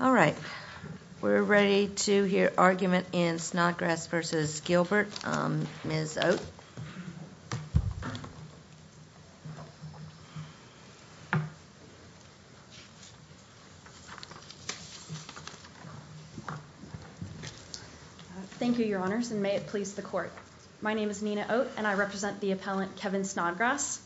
All right. We're ready to hear argument in Snodgrass v. Gilbert. Ms. Oate. Thank you, Your Honors, and may it please the Court. My name is Nina Oate, and I represent the appellant Kevin Snodgrass.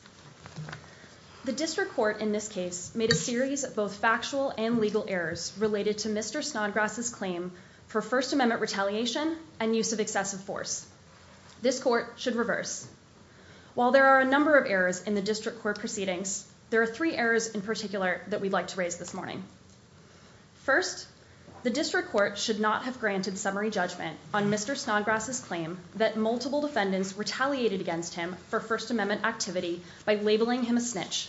The District Court in this case made a series of both factual and legal errors related to Mr. Snodgrass's claim for First Amendment retaliation and use of excessive force. This Court should reverse. While there are a number of errors in the District Court proceedings, there are three errors in particular that we'd like to raise this morning. First, the District Court should not have granted summary judgment on Mr. Snodgrass's claim that multiple defendants retaliated against him for First Amendment activity by labeling him a snitch.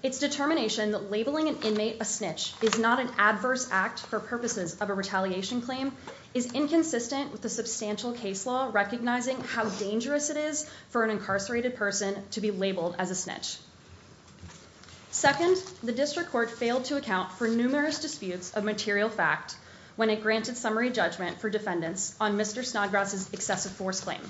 Its determination that labeling an inmate a snitch is not an adverse act for purposes of a retaliation claim is inconsistent with the substantial case law recognizing how dangerous it is for an incarcerated person to be labeled as a snitch. Second, the District Court failed to account for numerous disputes of material fact when it granted summary judgment for defendants on Mr. Snodgrass's excessive force claim.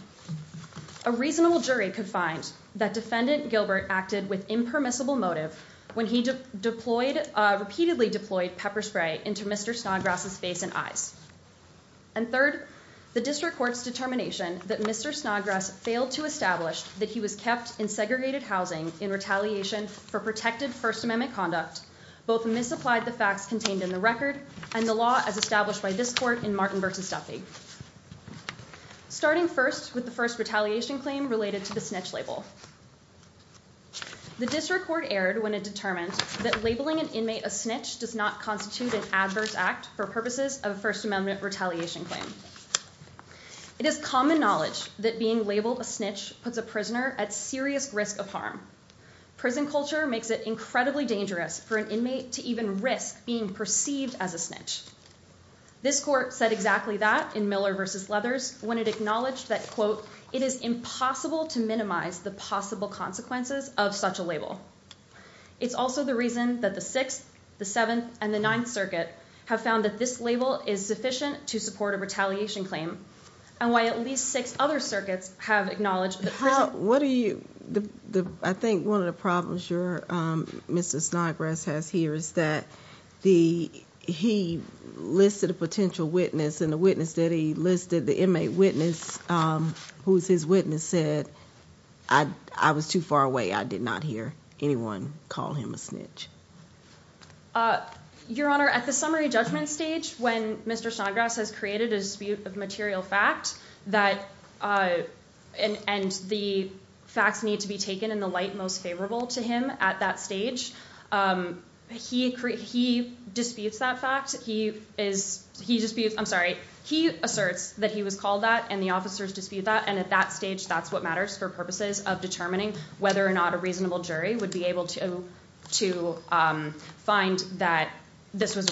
A reasonable jury could find that Defendant Gilbert acted with impermissible motive when he repeatedly deployed pepper spray into Mr. Snodgrass's face and eyes. And third, the District Court's determination that Mr. Snodgrass failed to establish that he was kept in segregated housing in retaliation for protected First Amendment conduct both misapplied the facts contained in the record and the law as established by this Court in Martin v. Duffy. Starting first with the first retaliation claim related to the snitch label. The District Court erred when it determined that labeling an inmate a snitch does not constitute an adverse act for purposes of a First Amendment retaliation claim. It is common knowledge that being labeled a snitch puts a prisoner at serious risk of harm. Prison culture makes it incredibly dangerous for an inmate to even risk being perceived as a snitch. This Court said exactly that in Miller v. Leathers when it acknowledged that, quote, it is impossible to minimize the possible consequences of such a label. It's also the reason that the Sixth, the Seventh, and the Ninth Circuit have found that this label is sufficient to support a retaliation claim. And why at least six other circuits have acknowledged that— I think one of the problems Mr. Snodgrass has here is that he listed a potential witness and the witness that he listed, the inmate witness, who was his witness, said, I was too far away. I did not hear anyone call him a snitch. Your Honor, at the summary judgment stage, when Mr. Snodgrass has created a dispute of material fact and the facts need to be taken in the light most favorable to him at that stage, he disputes that fact. He asserts that he was called that and the officers dispute that, and at that stage that's what matters for purposes of determining whether or not a reasonable jury would be able to find that this was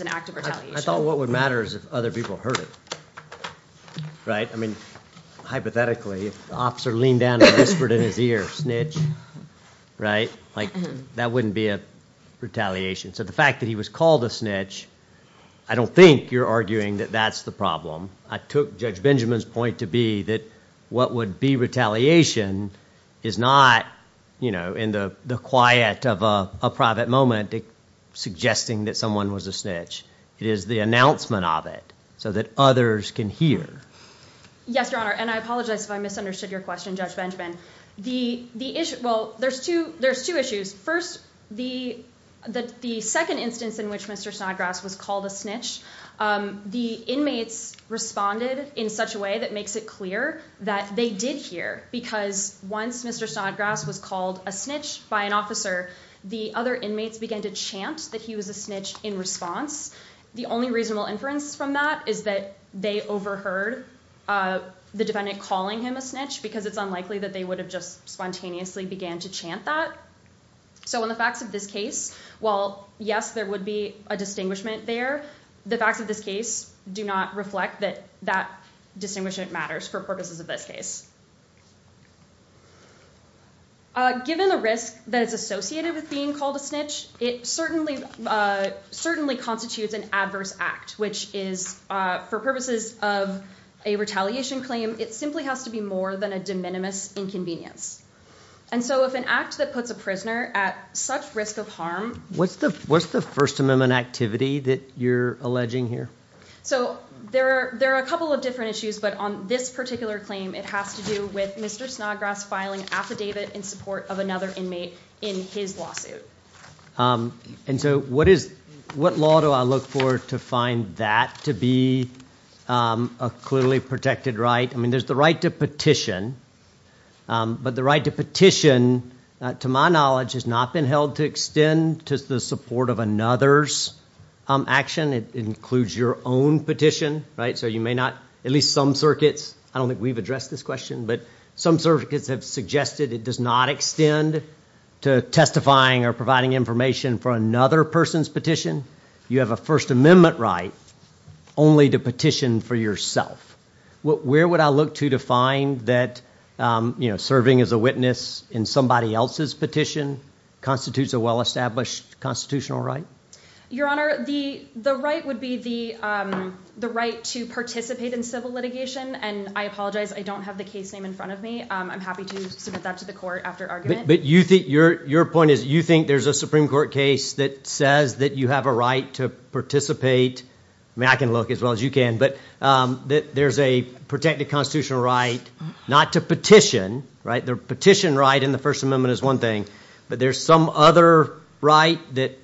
an act of retaliation. I thought what would matter is if other people heard it, right? I mean, hypothetically, if the officer leaned down and whispered in his ear, snitch, right, like that wouldn't be a retaliation. So the fact that he was called a snitch, I don't think you're arguing that that's the problem. I took Judge Benjamin's point to be that what would be retaliation is not, you know, in the quiet of a private moment, suggesting that someone was a snitch. It is the announcement of it so that others can hear. Yes, Your Honor, and I apologize if I misunderstood your question, Judge Benjamin. Well, there's two issues. First, the second instance in which Mr. Snodgrass was called a snitch, the inmates responded in such a way that makes it clear that they did hear because once Mr. Snodgrass was called a snitch by an officer, the other inmates began to chant that he was a snitch in response. The only reasonable inference from that is that they overheard the defendant calling him a snitch because it's unlikely that they would have just spontaneously began to chant that. So in the facts of this case, while yes, there would be a distinguishment there, the facts of this case do not reflect that that distinguishment matters for purposes of this case. Given the risk that is associated with being called a snitch, it certainly constitutes an adverse act, which is for purposes of a retaliation claim, it simply has to be more than a de minimis inconvenience. And so if an act that puts a prisoner at such risk of harm. What's the what's the First Amendment activity that you're alleging here? So there are there are a couple of different issues, but on this particular claim, it has to do with Mr. Snodgrass filing affidavit in support of another inmate in his lawsuit. And so what is what law do I look for to find that to be a clearly protected right? I mean, there's the right to petition, but the right to petition, to my knowledge, has not been held to extend to the support of another's action. It includes your own petition. Right. So you may not at least some circuits. I don't think we've addressed this question, but some circuits have suggested it does not extend to testifying or providing information for another person's petition. You have a First Amendment right only to petition for yourself. Where would I look to to find that, you know, serving as a witness in somebody else's petition constitutes a well-established constitutional right? Your Honor, the the right would be the the right to participate in civil litigation. And I apologize. I don't have the case name in front of me. I'm happy to submit that to the court after argument. But you think your your point is you think there's a Supreme Court case that says that you have a right to participate? I mean, I can look as well as you can, but that there's a protected constitutional right not to petition. Right. The petition right in the First Amendment is one thing. But there's some other right that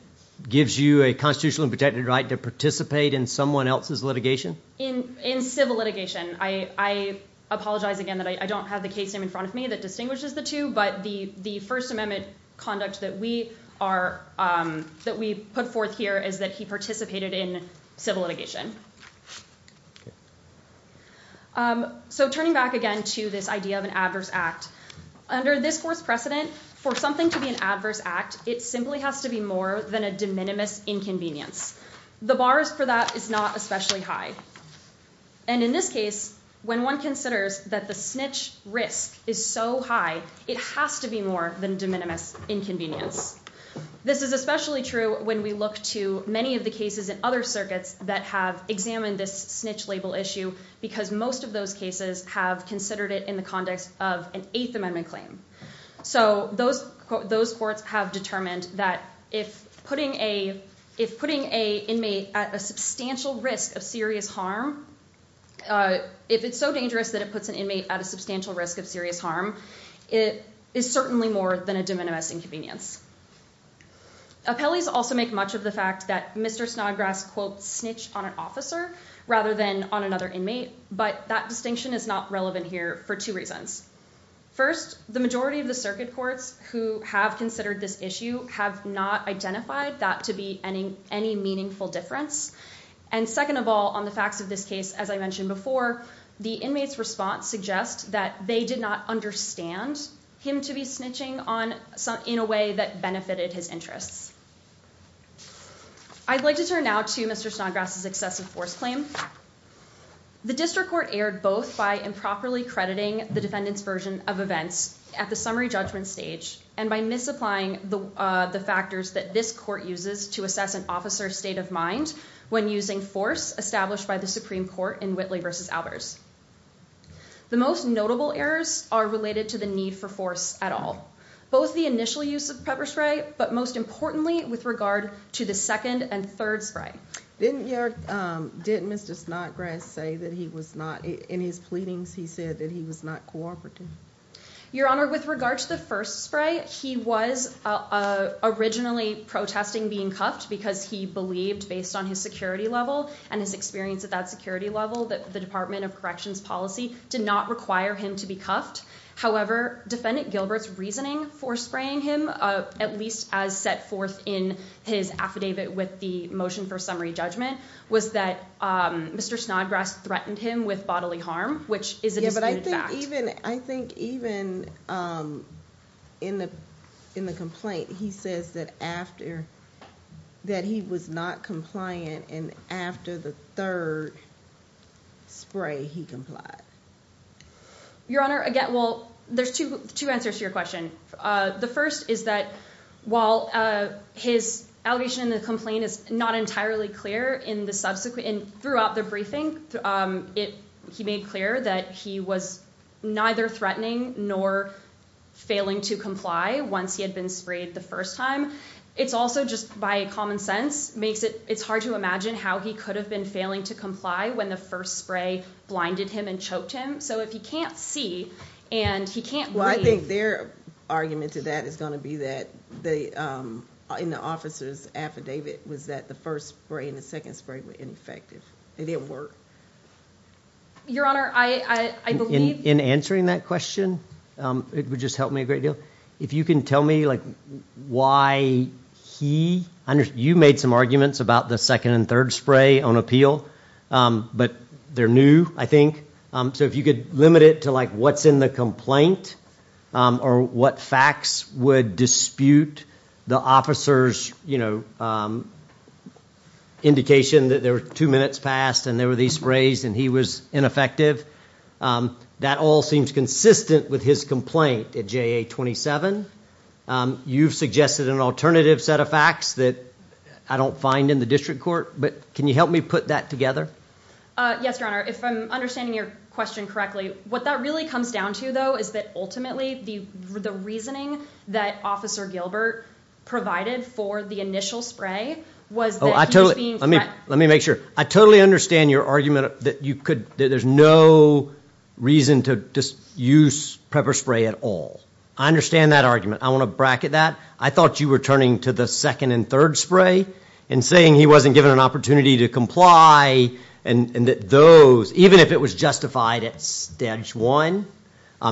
gives you a constitutional protected right to participate in someone else's litigation. In in civil litigation. I apologize again that I don't have the case name in front of me that distinguishes the two. But the the First Amendment conduct that we are that we put forth here is that he participated in civil litigation. So turning back again to this idea of an adverse act under this court's precedent for something to be an adverse act, it simply has to be more than a de minimis inconvenience. The bars for that is not especially high. And in this case, when one considers that the snitch risk is so high, it has to be more than de minimis inconvenience. This is especially true when we look to many of the cases in other circuits that have examined this snitch label issue, because most of those cases have considered it in the context of an Eighth Amendment claim. So those those courts have determined that if putting a if putting a inmate at a substantial risk of serious harm, if it's so dangerous that it puts an inmate at a substantial risk of serious harm, it is certainly more than a de minimis inconvenience. Appellees also make much of the fact that Mr. Snodgrass, quote, snitch on an officer rather than on another inmate. But that distinction is not relevant here for two reasons. First, the majority of the circuit courts who have considered this issue have not identified that to be any any meaningful difference. And second of all, on the facts of this case, as I mentioned before, the inmates response suggests that they did not understand him to be snitching on some in a way that benefited his interests. I'd like to turn now to Mr. Snodgrass' excessive force claim. The district court erred both by improperly crediting the defendant's version of events at the summary judgment stage and by misapplying the the factors that this court uses to assess an officer's state of mind when using force established by the Supreme Court in Whitley versus Albers. The most notable errors are related to the need for force at all. Both the initial use of pepper spray, but most importantly, with regard to the second and third spray. Didn't you did Mr. Snodgrass say that he was not in his pleadings? He said that he was not cooperating. Your Honor, with regard to the first spray, he was originally protesting being cuffed because he believed, based on his security level and his experience at that security level, that the Department of Corrections policy did not require him to be cuffed. However, Defendant Gilbert's reasoning for spraying him, at least as set forth in his affidavit with the motion for summary judgment, was that Mr. Snodgrass threatened him with bodily harm, which is a disputed fact. I think even in the complaint, he says that he was not compliant and after the third spray, he complied. Your Honor, again, well, there's two answers to your question. The first is that while his allegation in the complaint is not entirely clear, throughout the briefing, he made clear that he was neither threatening nor failing to comply once he had been sprayed the first time. It's also just by common sense. It's hard to imagine how he could have been failing to comply when the first spray blinded him and choked him. So if he can't see and he can't breathe… Well, I think their argument to that is going to be that, in the officer's affidavit, was that the first spray and the second spray were ineffective. They didn't work. Your Honor, I believe… In answering that question, it would just help me a great deal. If you can tell me why he… You made some arguments about the second and third spray on appeal, but they're new, I think. So if you could limit it to what's in the complaint or what facts would dispute the officer's indication that there were two minutes passed and there were these sprays and he was ineffective. That all seems consistent with his complaint at JA-27. You've suggested an alternative set of facts that I don't find in the district court, but can you help me put that together? Yes, Your Honor. If I'm understanding your question correctly, what that really comes down to, though, is that ultimately the reasoning that Officer Gilbert provided for the initial spray was that he was being… Let me make sure. I totally understand your argument that there's no reason to use pepper spray at all. I understand that argument. I want to bracket that. I thought you were turning to the second and third spray and saying he wasn't given an opportunity to comply and that those, even if it was justified at stage one,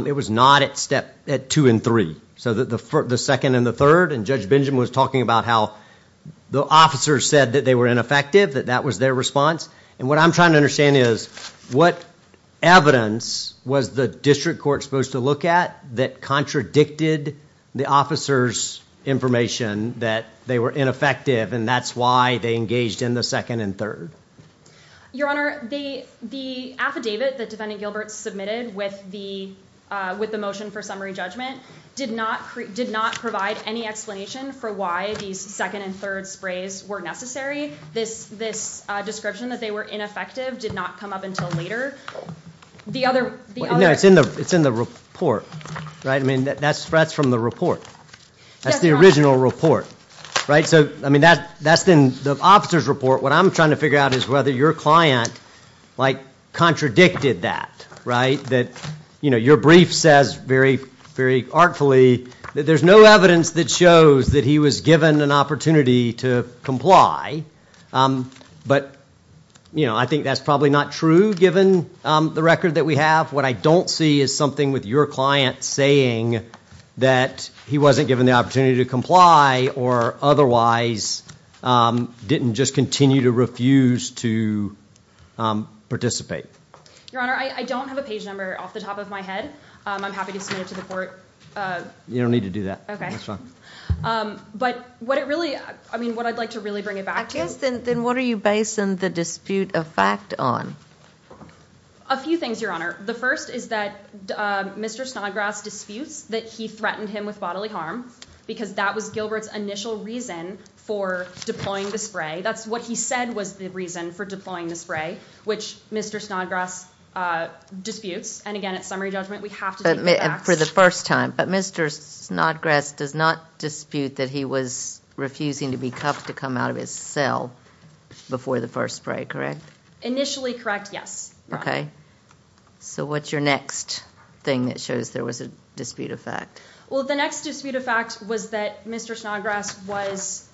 it was not at two and three. So the second and the third, and Judge Benjamin was talking about how the officers said that they were ineffective, that that was their response, and what I'm trying to understand is, what evidence was the district court supposed to look at that contradicted the officers' information that they were ineffective and that's why they engaged in the second and third? Your Honor, the affidavit that Defendant Gilbert submitted with the motion for summary judgment did not provide any explanation for why these second and third sprays were necessary. This description that they were ineffective did not come up until later. It's in the report, right? That's from the report. That's the original report, right? That's in the officer's report. What I'm trying to figure out is whether your client contradicted that. Your brief says very artfully that there's no evidence that shows that he was given an opportunity to comply, but I think that's probably not true given the record that we have. What I don't see is something with your client saying that he wasn't given the opportunity to comply or otherwise didn't just continue to refuse to participate. Your Honor, I don't have a page number off the top of my head. I'm happy to submit it to the court. You don't need to do that. That's fine. But what it really, I mean what I'd like to really bring it back to Then what are you basing the dispute of fact on? A few things, Your Honor. The first is that Mr. Snodgrass disputes that he threatened him with bodily harm because that was Gilbert's initial reason for deploying the spray. That's what he said was the reason for deploying the spray, which Mr. Snodgrass disputes. And again, at summary judgment, we have to take the facts. For the first time, but Mr. Snodgrass does not dispute that he was refusing to be cuffed to come out of his cell before the first spray, correct? Initially correct, yes. Okay. So what's your next thing that shows there was a dispute of fact? Well, the next dispute of fact was that Mr. Snodgrass was,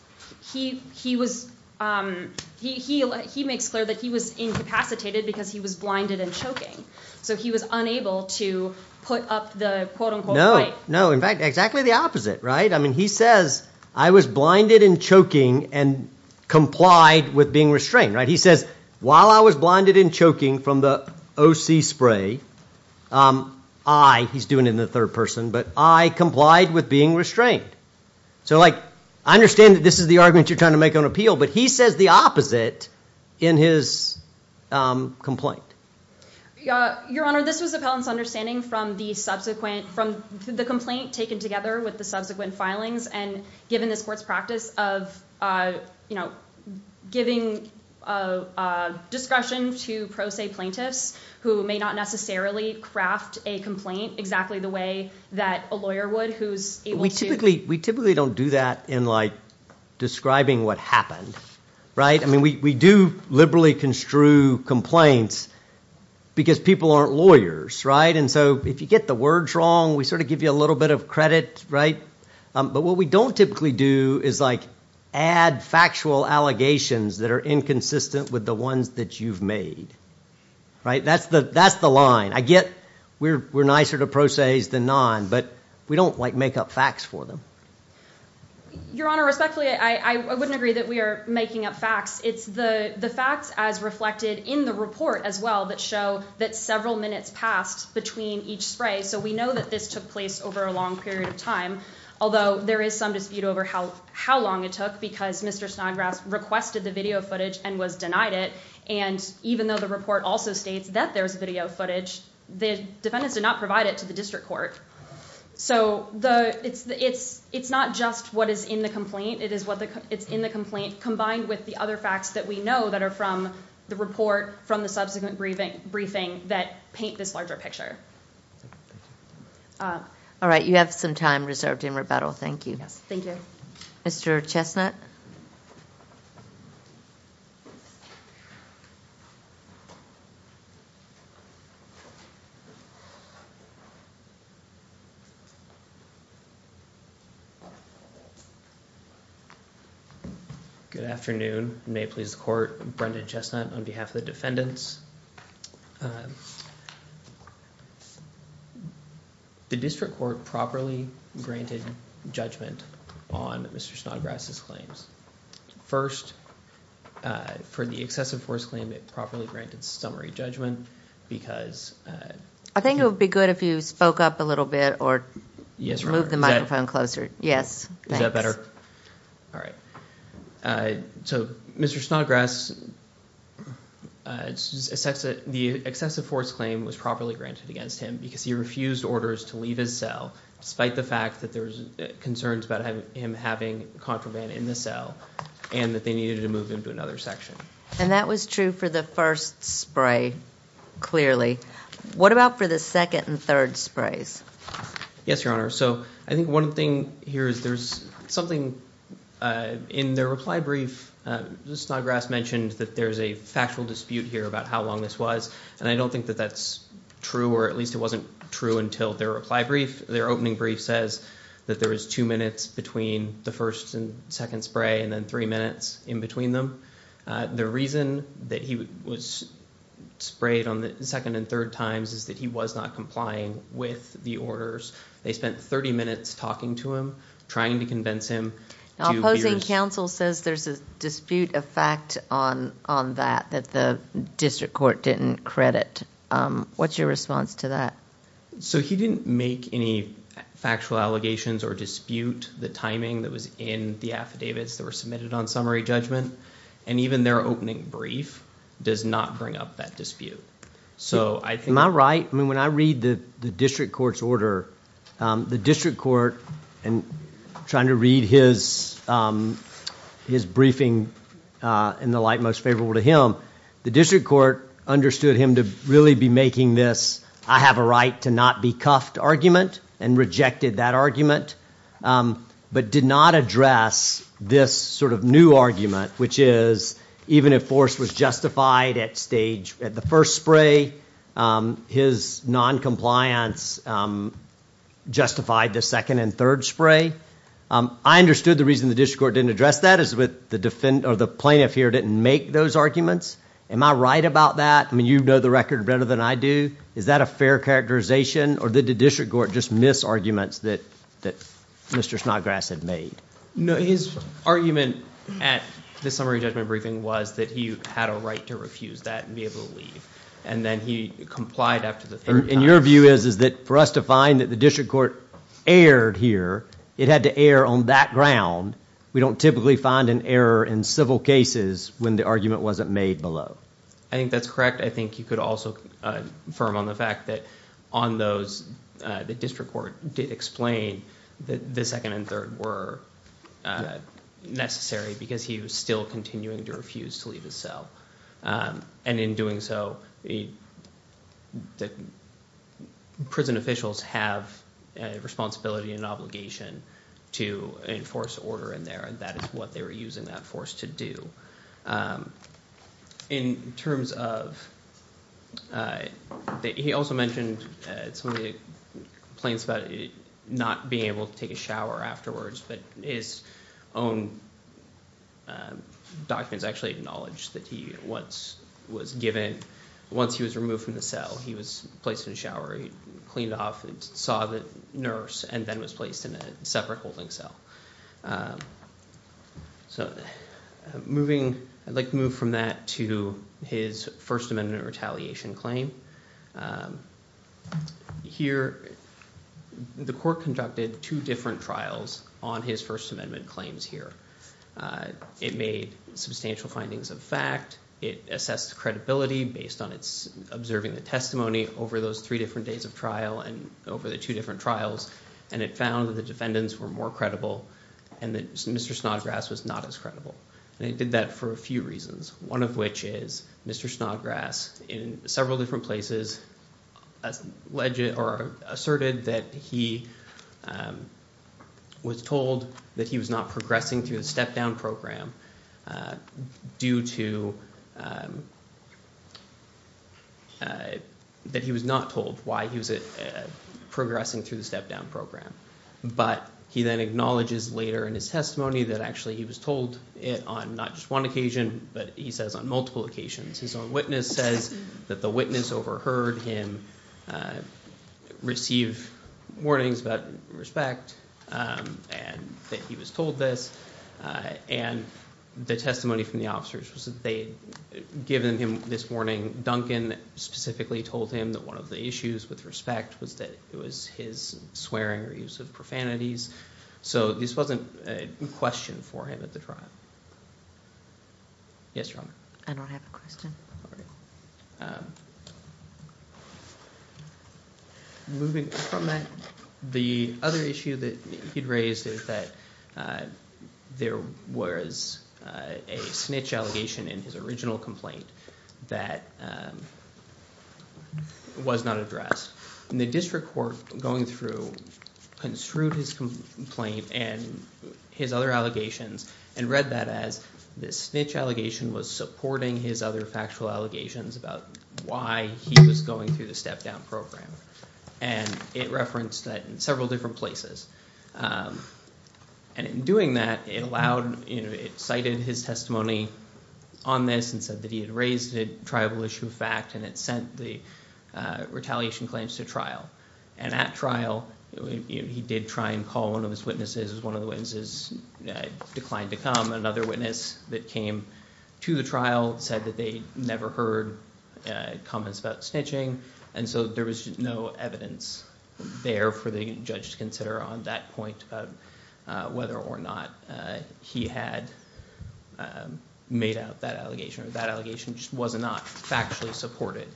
he was, he makes clear that he was incapacitated because he was blinded and choking. So he was unable to put up the quote-unquote fight. No, no. In fact, exactly the opposite, right? I mean, he says, I was blinded and choking and complied with being restrained, right? He says, while I was blinded and choking from the OC spray, I, he's doing it in the third person, but I complied with being restrained. So like, I understand that this is the argument you're trying to make on appeal, but he says the opposite in his complaint. Your Honor, this was appellant's understanding from the subsequent, from the complaint taken together with the subsequent filings and given this court's practice of, you know, giving discretion to pro se plaintiffs who may not necessarily craft a complaint exactly the way that a lawyer would, who's able to. We typically, we typically don't do that in like describing what happened, right? I mean, we do liberally construe complaints because people aren't lawyers, right? And so if you get the words wrong, we sort of give you a little bit of credit, right? But what we don't typically do is like add factual allegations that are inconsistent with the ones that you've made, right? That's the line. I get we're nicer to pro se's than non, but we don't like make up facts for them. Your Honor, respectfully, I wouldn't agree that we are making up facts. It's the facts as reflected in the report as well that show that several minutes passed between each spray. So we know that this took place over a long period of time, although there is some dispute over how long it took because Mr. Snodgrass requested the video footage and was denied it. And even though the report also states that there's video footage, the defendants did not provide it to the district court. So it's not just what is in the complaint. It's in the complaint combined with the other facts that we know that are from the report, from the subsequent briefing that paint this larger picture. All right. You have some time reserved in rebuttal. Thank you. Thank you. Mr. Chestnut. Good afternoon. May it please the court. Brendan Chestnut on behalf of the defendants. The district court properly granted judgment on Mr. Snodgrass's claims. First, for the excessive force claim, it properly granted summary judgment because. I think it would be good if you spoke up a little bit or moved the microphone closer. Yes. Is that better? All right. So Mr. Snodgrass, the excessive force claim was properly granted against him because he refused orders to leave his cell, despite the fact that there's concerns about him having contraband in the cell and that they needed to move him to another section. And that was true for the first spray, clearly. What about for the second and third sprays? Yes, Your Honor. So I think one thing here is there's something in their reply brief. Mr. Snodgrass mentioned that there's a factual dispute here about how long this was, and I don't think that that's true, or at least it wasn't true until their reply brief. Their opening brief says that there was two minutes between the first and second spray and then three minutes in between them. The reason that he was sprayed on the second and third times is that he was not complying with the orders. They spent 30 minutes talking to him, trying to convince him. Opposing counsel says there's a dispute of fact on that, that the district court didn't credit. What's your response to that? So he didn't make any factual allegations or dispute the timing that was in the affidavits that were submitted on summary judgment. And even their opening brief does not bring up that dispute. Am I right? When I read the district court's order, the district court, and I'm trying to read his briefing in the light most favorable to him, the district court understood him to really be making this I have a right to not be cuffed argument and rejected that argument, but did not address this sort of new argument, which is even if force was justified at the first spray, his noncompliance justified the second and third spray. I understood the reason the district court didn't address that is the plaintiff here didn't make those arguments. Am I right about that? You know the record better than I do. Is that a fair characterization or did the district court just miss arguments that Mr. Snodgrass had made? No, his argument at the summary judgment briefing was that he had a right to refuse that and be able to leave, and then he complied after the third time. And your view is that for us to find that the district court erred here, it had to err on that ground. We don't typically find an error in civil cases when the argument wasn't made below. I think that's correct. I think you could also affirm on the fact that on those the district court did explain that the second and third were necessary because he was still continuing to refuse to leave his cell, and in doing so the prison officials have a responsibility and obligation to enforce order in there, and that is what they were using that force to do. In terms of – he also mentioned some of the complaints about not being able to take a shower afterwards, but his own documents actually acknowledge that he was given – once he was removed from the cell, he was placed in the shower, he cleaned off, saw the nurse, and then was placed in a separate holding cell. So moving – I'd like to move from that to his First Amendment retaliation claim. Here the court conducted two different trials on his First Amendment claims here. It made substantial findings of fact. It assessed credibility based on its observing the testimony over those three different days of trial and over the two different trials, and it found that the defendants were more credible and that Mr. Snodgrass was not as credible, and it did that for a few reasons, one of which is Mr. Snodgrass in several different places asserted that he was told that he was not progressing through the step-down program due to – that he was not told why he was progressing through the step-down program. But he then acknowledges later in his testimony that actually he was told it on not just one occasion, but he says on multiple occasions. His own witness says that the witness overheard him receive warnings about respect and that he was told this, and the testimony from the officers was that they had given him this warning. Duncan specifically told him that one of the issues with respect was that it was his swearing or use of profanities. So this wasn't a question for him at the trial. Yes, Your Honor. I don't have a question. All right. Moving from that, the other issue that he raised is that there was a snitch allegation in his original complaint that was not addressed. And the district court going through construed his complaint and his other allegations and read that as the snitch allegation was supporting his other factual allegations about why he was going through the step-down program. And it referenced that in several different places. And in doing that, it allowed – it cited his testimony on this and said that he had raised a triable issue of fact and it sent the retaliation claims to trial. And at trial, he did try and call one of his witnesses as one of the witnesses declined to come. Another witness that came to the trial said that they never heard comments about snitching. And so there was no evidence there for the judge to consider on that point about whether or not he had made out that allegation. That allegation was not factually supported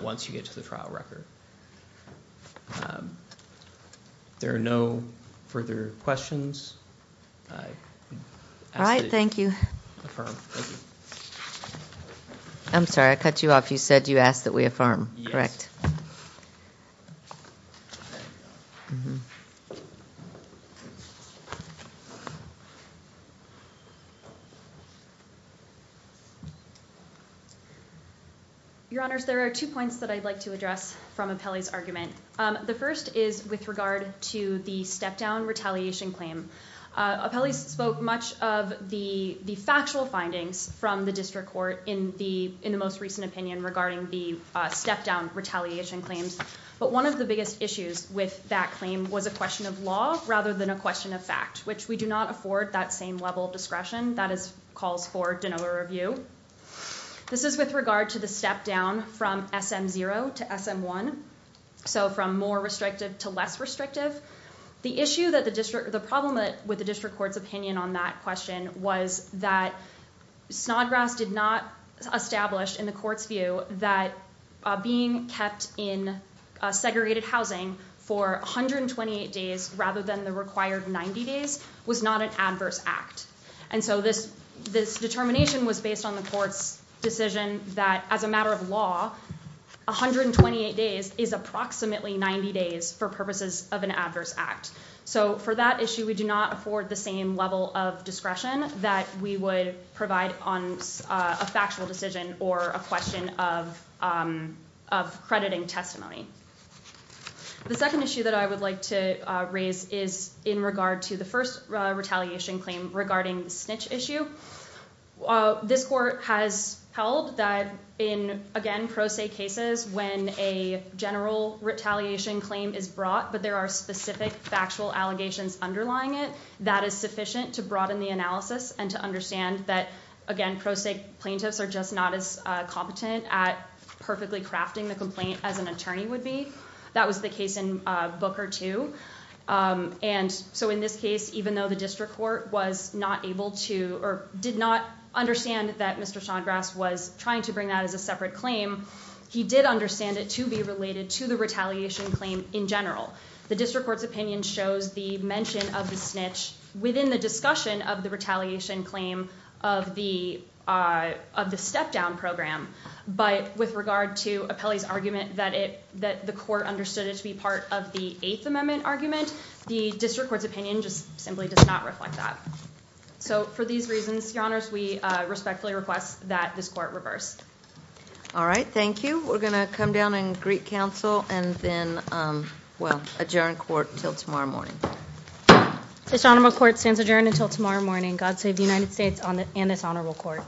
once you get to the trial record. There are no further questions. All right. Thank you. Affirm. Thank you. I'm sorry. I cut you off. You said you asked that we affirm, correct? Yes. Your Honors, there are two points that I'd like to address from Apelli's argument. The first is with regard to the step-down retaliation claim. Apelli spoke much of the factual findings from the district court in the most recent opinion regarding the step-down retaliation claims. But one of the biggest issues with that claim was a question of law rather than a question of fact, which we do not afford that same level of discretion that calls for de novo review. This is with regard to the step-down from SM0 to SM1, so from more restrictive to less restrictive. The problem with the district court's opinion on that question was that Snodgrass did not establish in the court's view that being kept in segregated housing for 128 days rather than the required 90 days was not an adverse act. And so this determination was based on the court's decision that as a matter of law, 128 days is approximately 90 days for purposes of an adverse act. So for that issue, we do not afford the same level of discretion that we would provide on a factual decision or a question of crediting testimony. The second issue that I would like to raise is in regard to the first retaliation claim regarding the snitch issue. This court has held that in, again, pro se cases when a general retaliation claim is brought but there are specific factual allegations underlying it, that is sufficient to broaden the analysis and to understand that, again, pro se plaintiffs are just not as competent at perfectly crafting the complaint as an attorney would be. That was the case in Booker too. And so in this case, even though the district court was not able to or did not understand that Mr. Snodgrass was trying to bring that as a separate claim, he did understand it to be related to the retaliation claim in general. The district court's opinion shows the mention of the snitch within the discussion of the retaliation claim of the step-down program. But with regard to Apelli's argument that the court understood it to be part of the Eighth Amendment argument, the district court's opinion just simply does not reflect that. So for these reasons, your honors, we respectfully request that this court reverse. All right, thank you. We're going to come down and greet counsel and then, well, adjourn court until tomorrow morning. This honorable court stands adjourned until tomorrow morning. God save the United States and this honorable court.